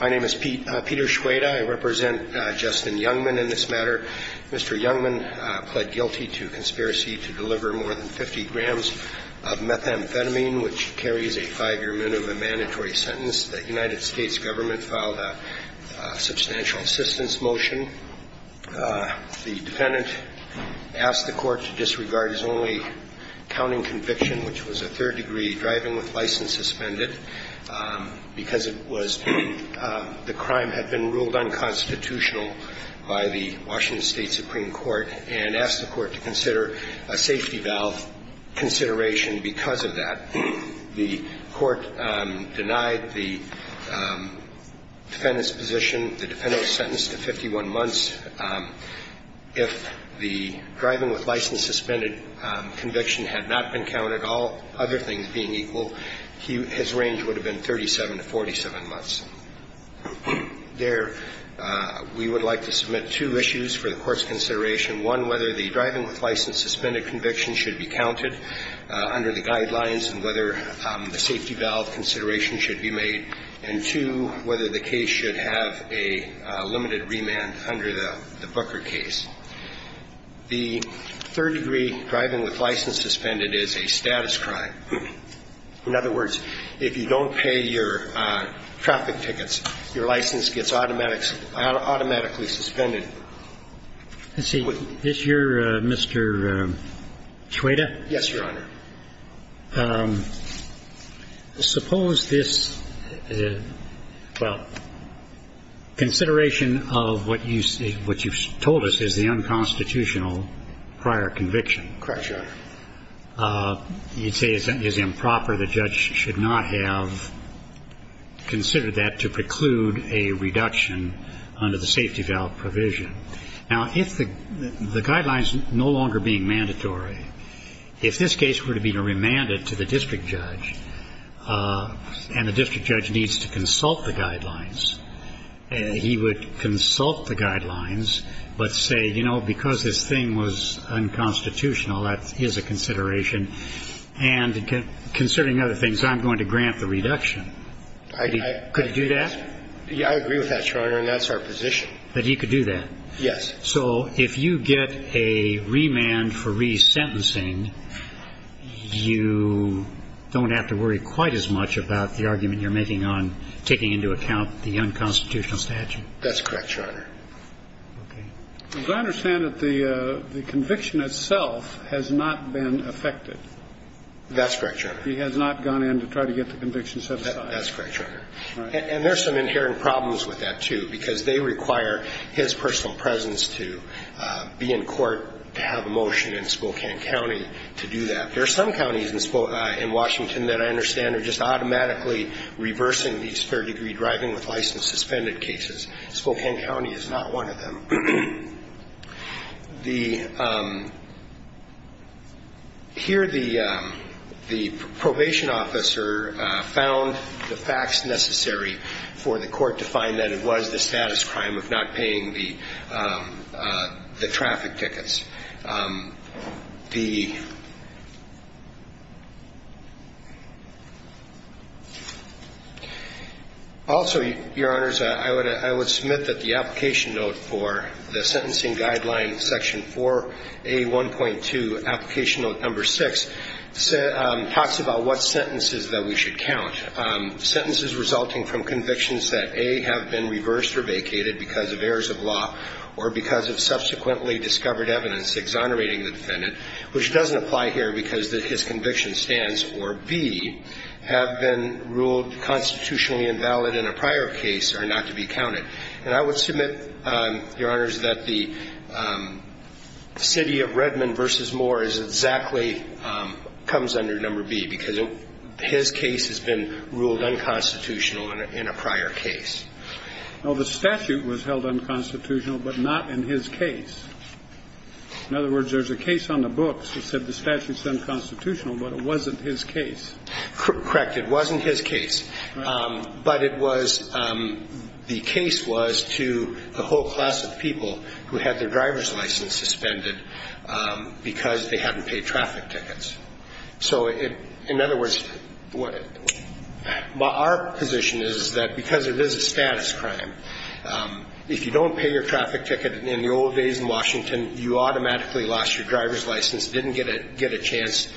My name is Peter Schweda. I represent Justin Youngman in this matter. Mr. Youngman pled guilty to conspiracy to deliver more than 50 grams of methamphetamine, which carries a five-year minimum mandatory sentence. The United States government filed a substantial assistance motion. The defendant asked the court to disregard his only counting conviction, which was a third-degree driving with license suspended, because it was the crime had been ruled unconstitutional by the Washington State Supreme Court, and asked the court to consider a safety valve consideration because of that. The court denied the defendant's position. The defendant was sentenced to 51 months. If the driving with license suspended conviction had not been counted, all other things being equal, his range would have been 37 to 47 months. There, we would like to submit two issues for the court's consideration, one, whether the driving with license suspended conviction should be counted under the guidelines and whether the safety valve consideration should be made, and two, whether the case should have a limited remand under the Booker case. The third-degree driving with license suspended is a status crime. In other words, if you don't pay your traffic tickets, your license gets automatically suspended. Let's see. Is your, Mr. Chueda? Yes, Your Honor. Suppose this is, well, consideration of what you've told us is the unconstitutional prior conviction. Correct, Your Honor. You'd say it's improper. The judge should not have considered that to preclude a reduction under the safety valve provision. Now, if the guidelines no longer being mandatory, if this case were to be remanded to the district judge and the district judge needs to consult the guidelines, he would consult the guidelines but say, you know, because this thing was unconstitutional, that is a consideration, and considering other things, I'm going to grant the reduction. Could he do that? I agree with that, Your Honor, and that's our position. That he could do that? Yes. So if you get a remand for resentencing, you don't have to worry quite as much about the argument you're making on taking into account the unconstitutional statute? That's correct, Your Honor. Okay. As I understand it, the conviction itself has not been affected. That's correct, Your Honor. He has not gone in to try to get the conviction set aside. That's correct, Your Honor. And there's some inherent problems with that, too, because they require his personal presence to be in court to have a motion in Spokane County to do that. There are some counties in Washington that I understand are just automatically reversing the spare degree driving with license suspended cases. Spokane County is not one of them. The – here, the probation officer found the facts necessary for the court to find that it was the status crime of not paying the traffic tickets. The – also, Your Honor, the application note for the sentencing guideline section 4A1.2, application note number 6, talks about what sentences that we should count. Sentences resulting from convictions that, A, have been reversed or vacated because of errors of law or because of subsequently discovered evidence exonerating the defendant, which doesn't apply here because his conviction stands, or, B, have been ruled constitutionally valid in a prior case, are not to be counted. And I would submit, Your Honors, that the city of Redmond v. Moore is exactly – comes under number B because his case has been ruled unconstitutional in a prior case. Well, the statute was held unconstitutional, but not in his case. In other words, there's a case on the books that said the statute's unconstitutional, but it wasn't his case. Correct. It wasn't his case. Right. But it was – the case was to the whole class of people who had their driver's license suspended because they hadn't paid traffic tickets. So it – in other words, what – well, our position is that because it is a status crime, if you don't pay your traffic ticket in the old days in Washington, you automatically lost your driver's license, didn't get a chance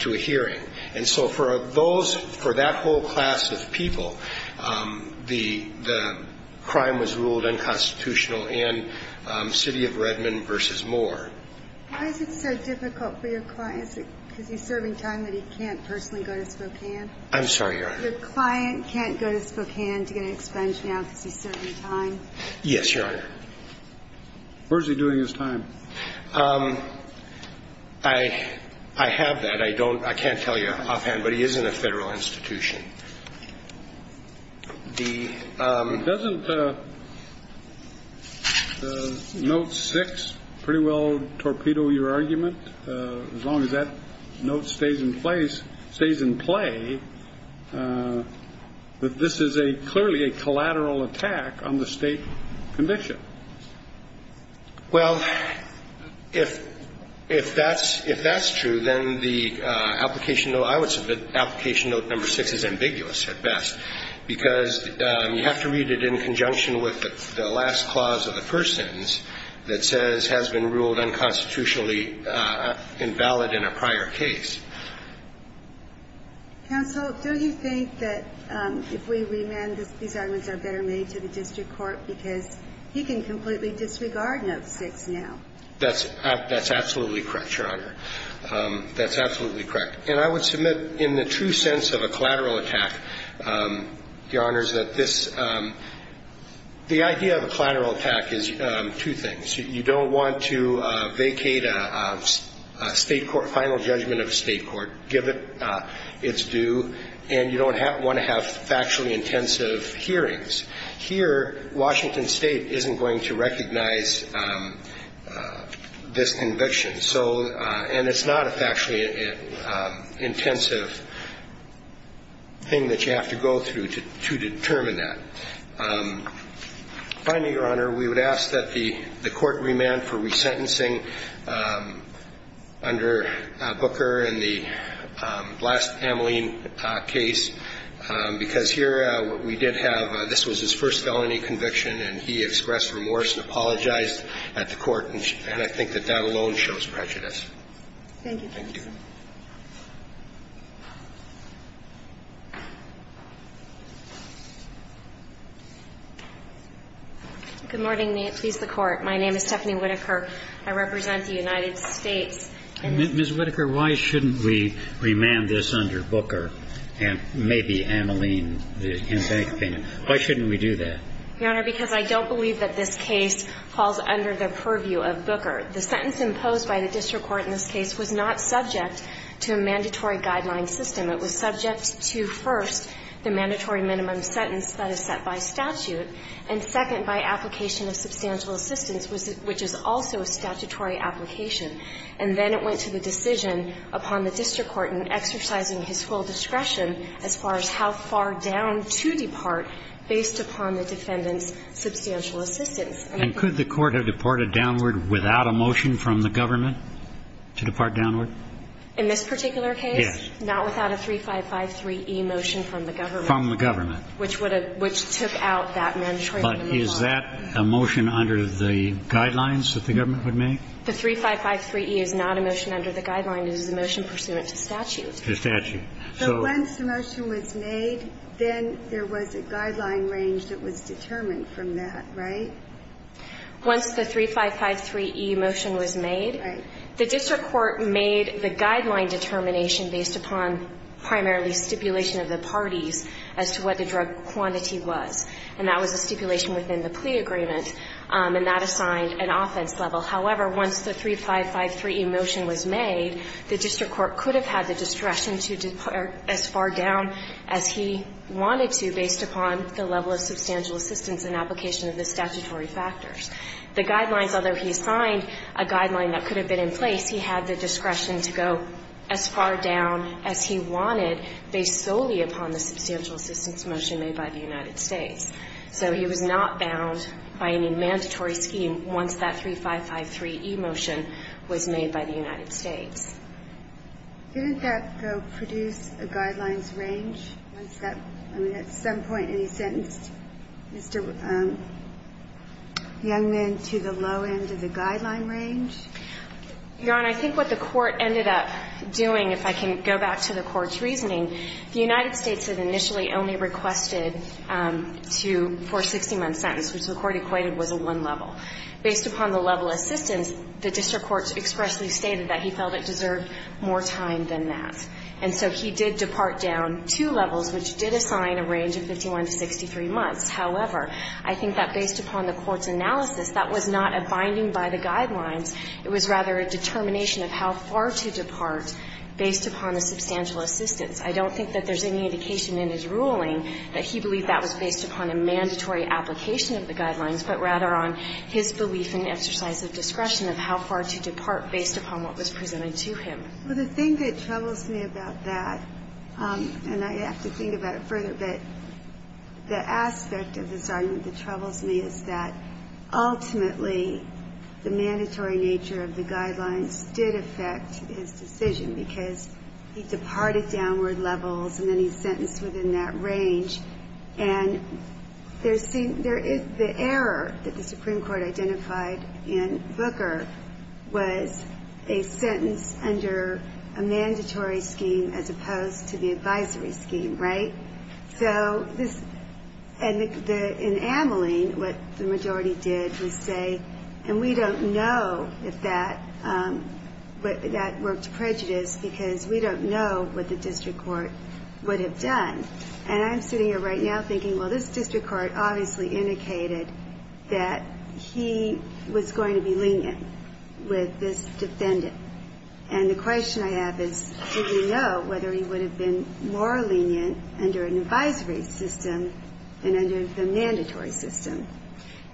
to a hearing. And so for those – for that whole class of people, the crime was ruled unconstitutional in city of Redmond v. Moore. Why is it so difficult for your client because he's serving time that he can't personally go to Spokane? I'm sorry, Your Honor. Your client can't go to Spokane to get an expense now because he's serving time? Yes, Your Honor. Where is he doing his time? I have that. I don't – I can't tell you offhand, but he is in a federal institution. The – Doesn't Note 6 pretty well torpedo your argument, as long as that note stays in place – stays in play, that this is a – clearly a collateral attack on the state condition? Well, if – if that's – if that's true, then the application note – I would say that application note number 6 is ambiguous at best, because you have to read it in conjunction with the last clause of the first sentence that says, has been ruled unconstitutionally invalid in a prior case. Counsel, do you think that if we remand, these arguments are better made to the state court, then we can completely disregard Note 6 now? That's – that's absolutely correct, Your Honor. That's absolutely correct. And I would submit, in the true sense of a collateral attack, Your Honors, that this – the idea of a collateral attack is two things. You don't want to vacate a state court – final judgment of a state court, give it its due, and you don't want to have factually intensive hearings. Here, Washington State isn't going to recognize this conviction. So – and it's not a factually intensive thing that you have to go through to determine that. Finally, Your Honor, we would ask that the court remand for resentencing under Booker and the last Ameline case, because here we did have – this was his first felony conviction, and he expressed remorse and apologized at the court. And I think that that alone shows prejudice. Thank you, counsel. Thank you. Good morning. May it please the Court. My name is Stephanie Whitaker. I represent the United States. Ms. Whitaker, why shouldn't we remand this under Booker and maybe Ameline, and why shouldn't we do that? Your Honor, because I don't believe that this case falls under the purview of Booker. The sentence imposed by the district court in this case was not subject to a mandatory guideline system. It was subject to, first, the mandatory minimum sentence that is set by statute and, second, by application of substantial assistance, which is also a statutory application. And then it went to the decision upon the district court in exercising his full discretion as far as how far down to depart based upon the defendant's substantial assistance. And could the court have departed downward without a motion from the government to depart downward? In this particular case? Yes. Not without a 3553e motion from the government. From the government. Which would have – which took out that mandatory minimum. But is that a motion under the guidelines that the government would make? The 3553e is not a motion under the guideline. It is a motion pursuant to statute. To statute. But once the motion was made, then there was a guideline range that was determined from that, right? Once the 3553e motion was made, the district court made the guideline determination based upon primarily stipulation of the parties as to what the drug quantity was. And that was a stipulation within the plea agreement. And that assigned an offense level. However, once the 3553e motion was made, the district court could have had the discretion to depart as far down as he wanted to based upon the level of substantial assistance and application of the statutory factors. The guidelines, although he signed a guideline that could have been in place, he had the discretion to go as far down as he wanted based solely upon the substantial assistance motion made by the United States. So he was not bound by any mandatory scheme once that 3553e motion was made by the United States. Didn't that, though, produce a guidelines range? Was that, I mean, at some point he sentenced Mr. Youngman to the low end of the guideline range? Your Honor, I think what the Court ended up doing, if I can go back to the Court's reasoning, the United States had initially only requested to, for a 60-month sentence, which the Court equated was a one level. Based upon the level of assistance, the district court expressly stated that he felt it deserved more time than that. And so he did depart down two levels, which did assign a range of 51 to 63 months. However, I think that based upon the Court's analysis, that was not a binding by the guidelines. It was rather a determination of how far to depart based upon the substantial assistance. I don't think that there's any indication in his ruling that he believed that was his belief in exercise of discretion of how far to depart based upon what was presented to him. Well, the thing that troubles me about that, and I have to think about it further, but the aspect of this argument that troubles me is that ultimately the mandatory nature of the guidelines did affect his decision, because he departed downward levels and then he's sentenced within that range. And there is the error that the Supreme Court identified in Booker was a sentence under a mandatory scheme as opposed to the advisory scheme, right? So in Ameling, what the majority did was say, and we don't know if that worked prejudice, because we don't know what the district court would have done. And I'm sitting here right now thinking, well, this district court obviously indicated that he was going to be lenient with this defendant. And the question I have is, did we know whether he would have been more lenient under an advisory system than under the mandatory system?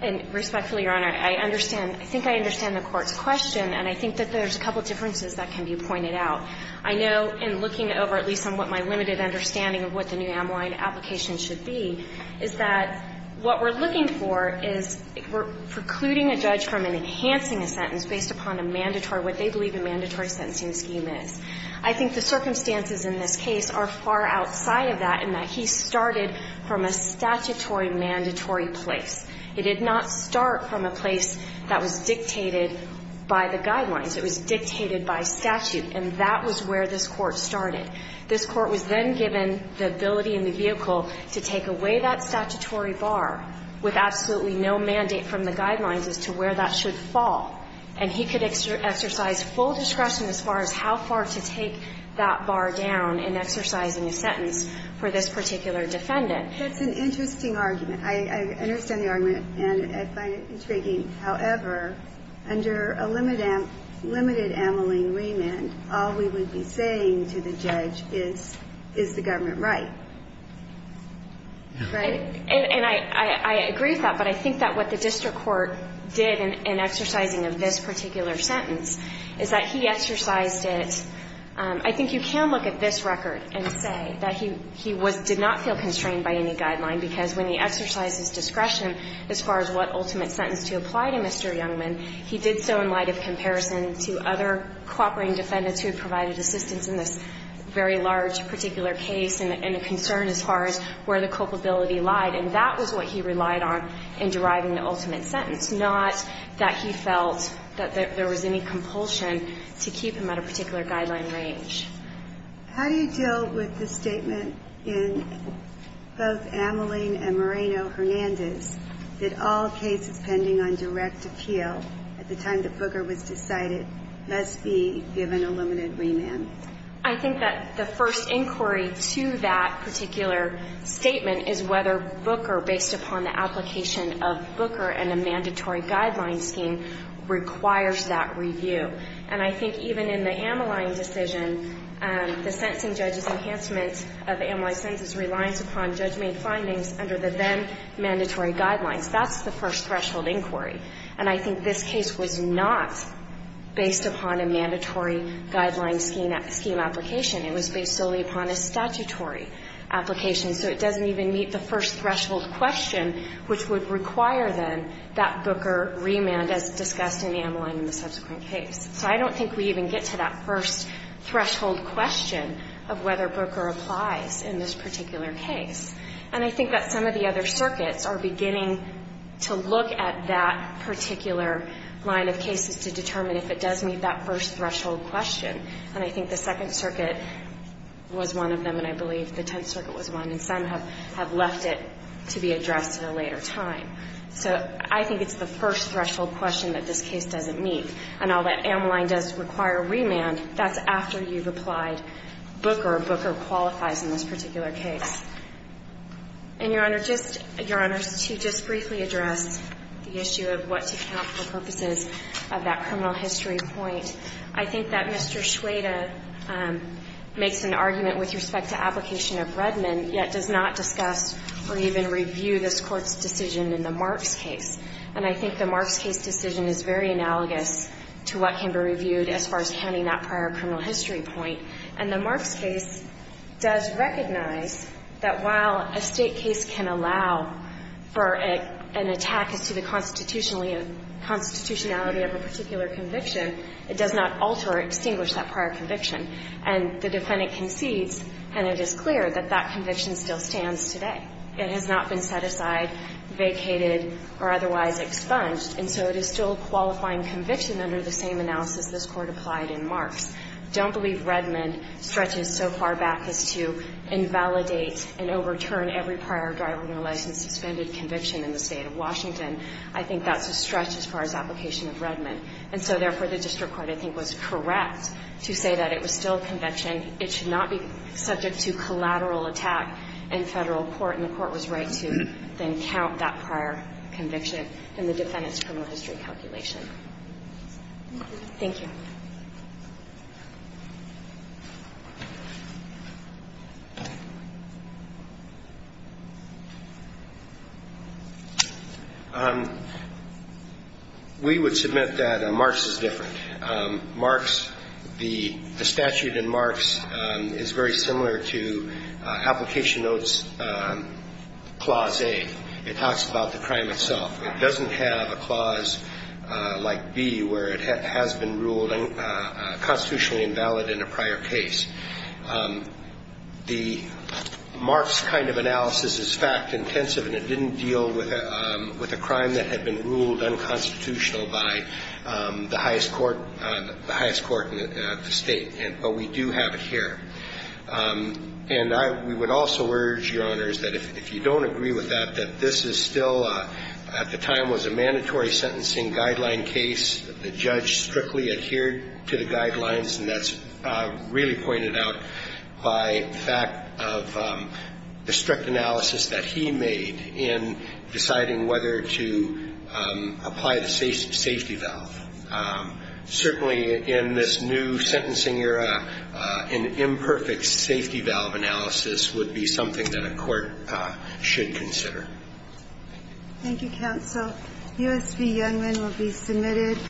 And respectfully, Your Honor, I understand. I think I understand the Court's question, and I think that there's a couple of differences that can be pointed out. I know in looking over, at least on what my limited understanding of what the new Ameline application should be, is that what we're looking for is we're precluding a judge from enhancing a sentence based upon a mandatory, what they believe a mandatory sentencing scheme is. I think the circumstances in this case are far outside of that in that he started from a statutory mandatory place. It did not start from a place that was dictated by the guidelines. It was dictated by statute. And that was where this Court started. This Court was then given the ability in the vehicle to take away that statutory bar with absolutely no mandate from the guidelines as to where that should fall. And he could exercise full discretion as far as how far to take that bar down in exercising a sentence for this particular defendant. It's an interesting argument. I understand the argument, and I find it intriguing. However, under a limited Ameline remand, all we would be saying to the judge is, is the government right? Right? And I agree with that. But I think that what the district court did in exercising of this particular sentence is that he exercised it. I think you can look at this record and say that he did not feel constrained by any guideline, because when he exercised his discretion as far as what ultimate sentence to apply to Mr. Youngman, he did so in light of comparison to other cooperating defendants who had provided assistance in this very large particular case and a concern as far as where the culpability lied. And that was what he relied on in deriving the ultimate sentence, not that he felt that there was any compulsion to keep him at a particular guideline range. How do you deal with the statement in both Ameline and Moreno-Hernandez that all cases pending on direct appeal at the time that Booker was decided must be given a limited remand? I think that the first inquiry to that particular statement is whether Booker, based upon the application of Booker and a mandatory guideline scheme, requires that review. And I think even in the Ameline decision, the sentencing judge's enhancement of Ameline's sentence is reliance upon judgment findings under the then-mandatory guidelines. That's the first threshold inquiry. And I think this case was not based upon a mandatory guideline scheme application. It was based solely upon a statutory application. So it doesn't even meet the first threshold question, which would require, then, that Booker remand as discussed in Ameline in the subsequent case. So I don't think we even get to that first threshold question of whether Booker applies in this particular case. And I think that some of the other circuits are beginning to look at that particular line of cases to determine if it does meet that first threshold question. And I think the Second Circuit was one of them, and I believe the Tenth Circuit was one, and some have left it to be addressed at a later time. So I think it's the first threshold question that this case doesn't meet. And all that Ameline does require remand, that's after you've applied Booker. Booker qualifies in this particular case. And, Your Honor, just to just briefly address the issue of what to count for purposes of that criminal history point, I think that Mr. Schweda makes an argument with respect to application of Redmond, yet does not discuss or even review this Court's decision in the Marks case. And I think the Marks case decision is very analogous to what can be reviewed as far as counting that prior criminal history point. And the Marks case does recognize that while a State case can allow for an attack as to the constitutionality of a particular conviction, it does not alter or extinguish that prior conviction. And the defendant concedes, and it is clear that that conviction still stands today. It has not been set aside, vacated, or otherwise expunged. And so it is still a qualifying conviction under the same analysis this Court applied in Marks. I don't believe Redmond stretches so far back as to invalidate and overturn every prior driver's license suspended conviction in the State of Washington. I think that's a stretch as far as application of Redmond. And so, therefore, the district court, I think, was correct to say that it was still a conviction. It should not be subject to collateral attack in Federal court, and the Court was right to then count that prior conviction in the defendant's criminal history calculation. Thank you. We would submit that Marks is different. Marks, the statute in Marks is very similar to application notes clause A. It talks about the crime itself. It doesn't have a clause like B where it has been ruled constitutionally invalid in a prior case. The Marks kind of analysis is fact-intensive, and it didn't deal with a crime that the highest court in the State, but we do have it here. And we would also urge, Your Honors, that if you don't agree with that, that this is still, at the time, was a mandatory sentencing guideline case. The judge strictly adhered to the guidelines, and that's really pointed out by the fact of the strict analysis that he made in deciding whether to apply the safety valve. Certainly, in this new sentencing era, an imperfect safety valve analysis would be something that a court should consider. Thank you, Counsel. U.S. v. Youngman will be submitted.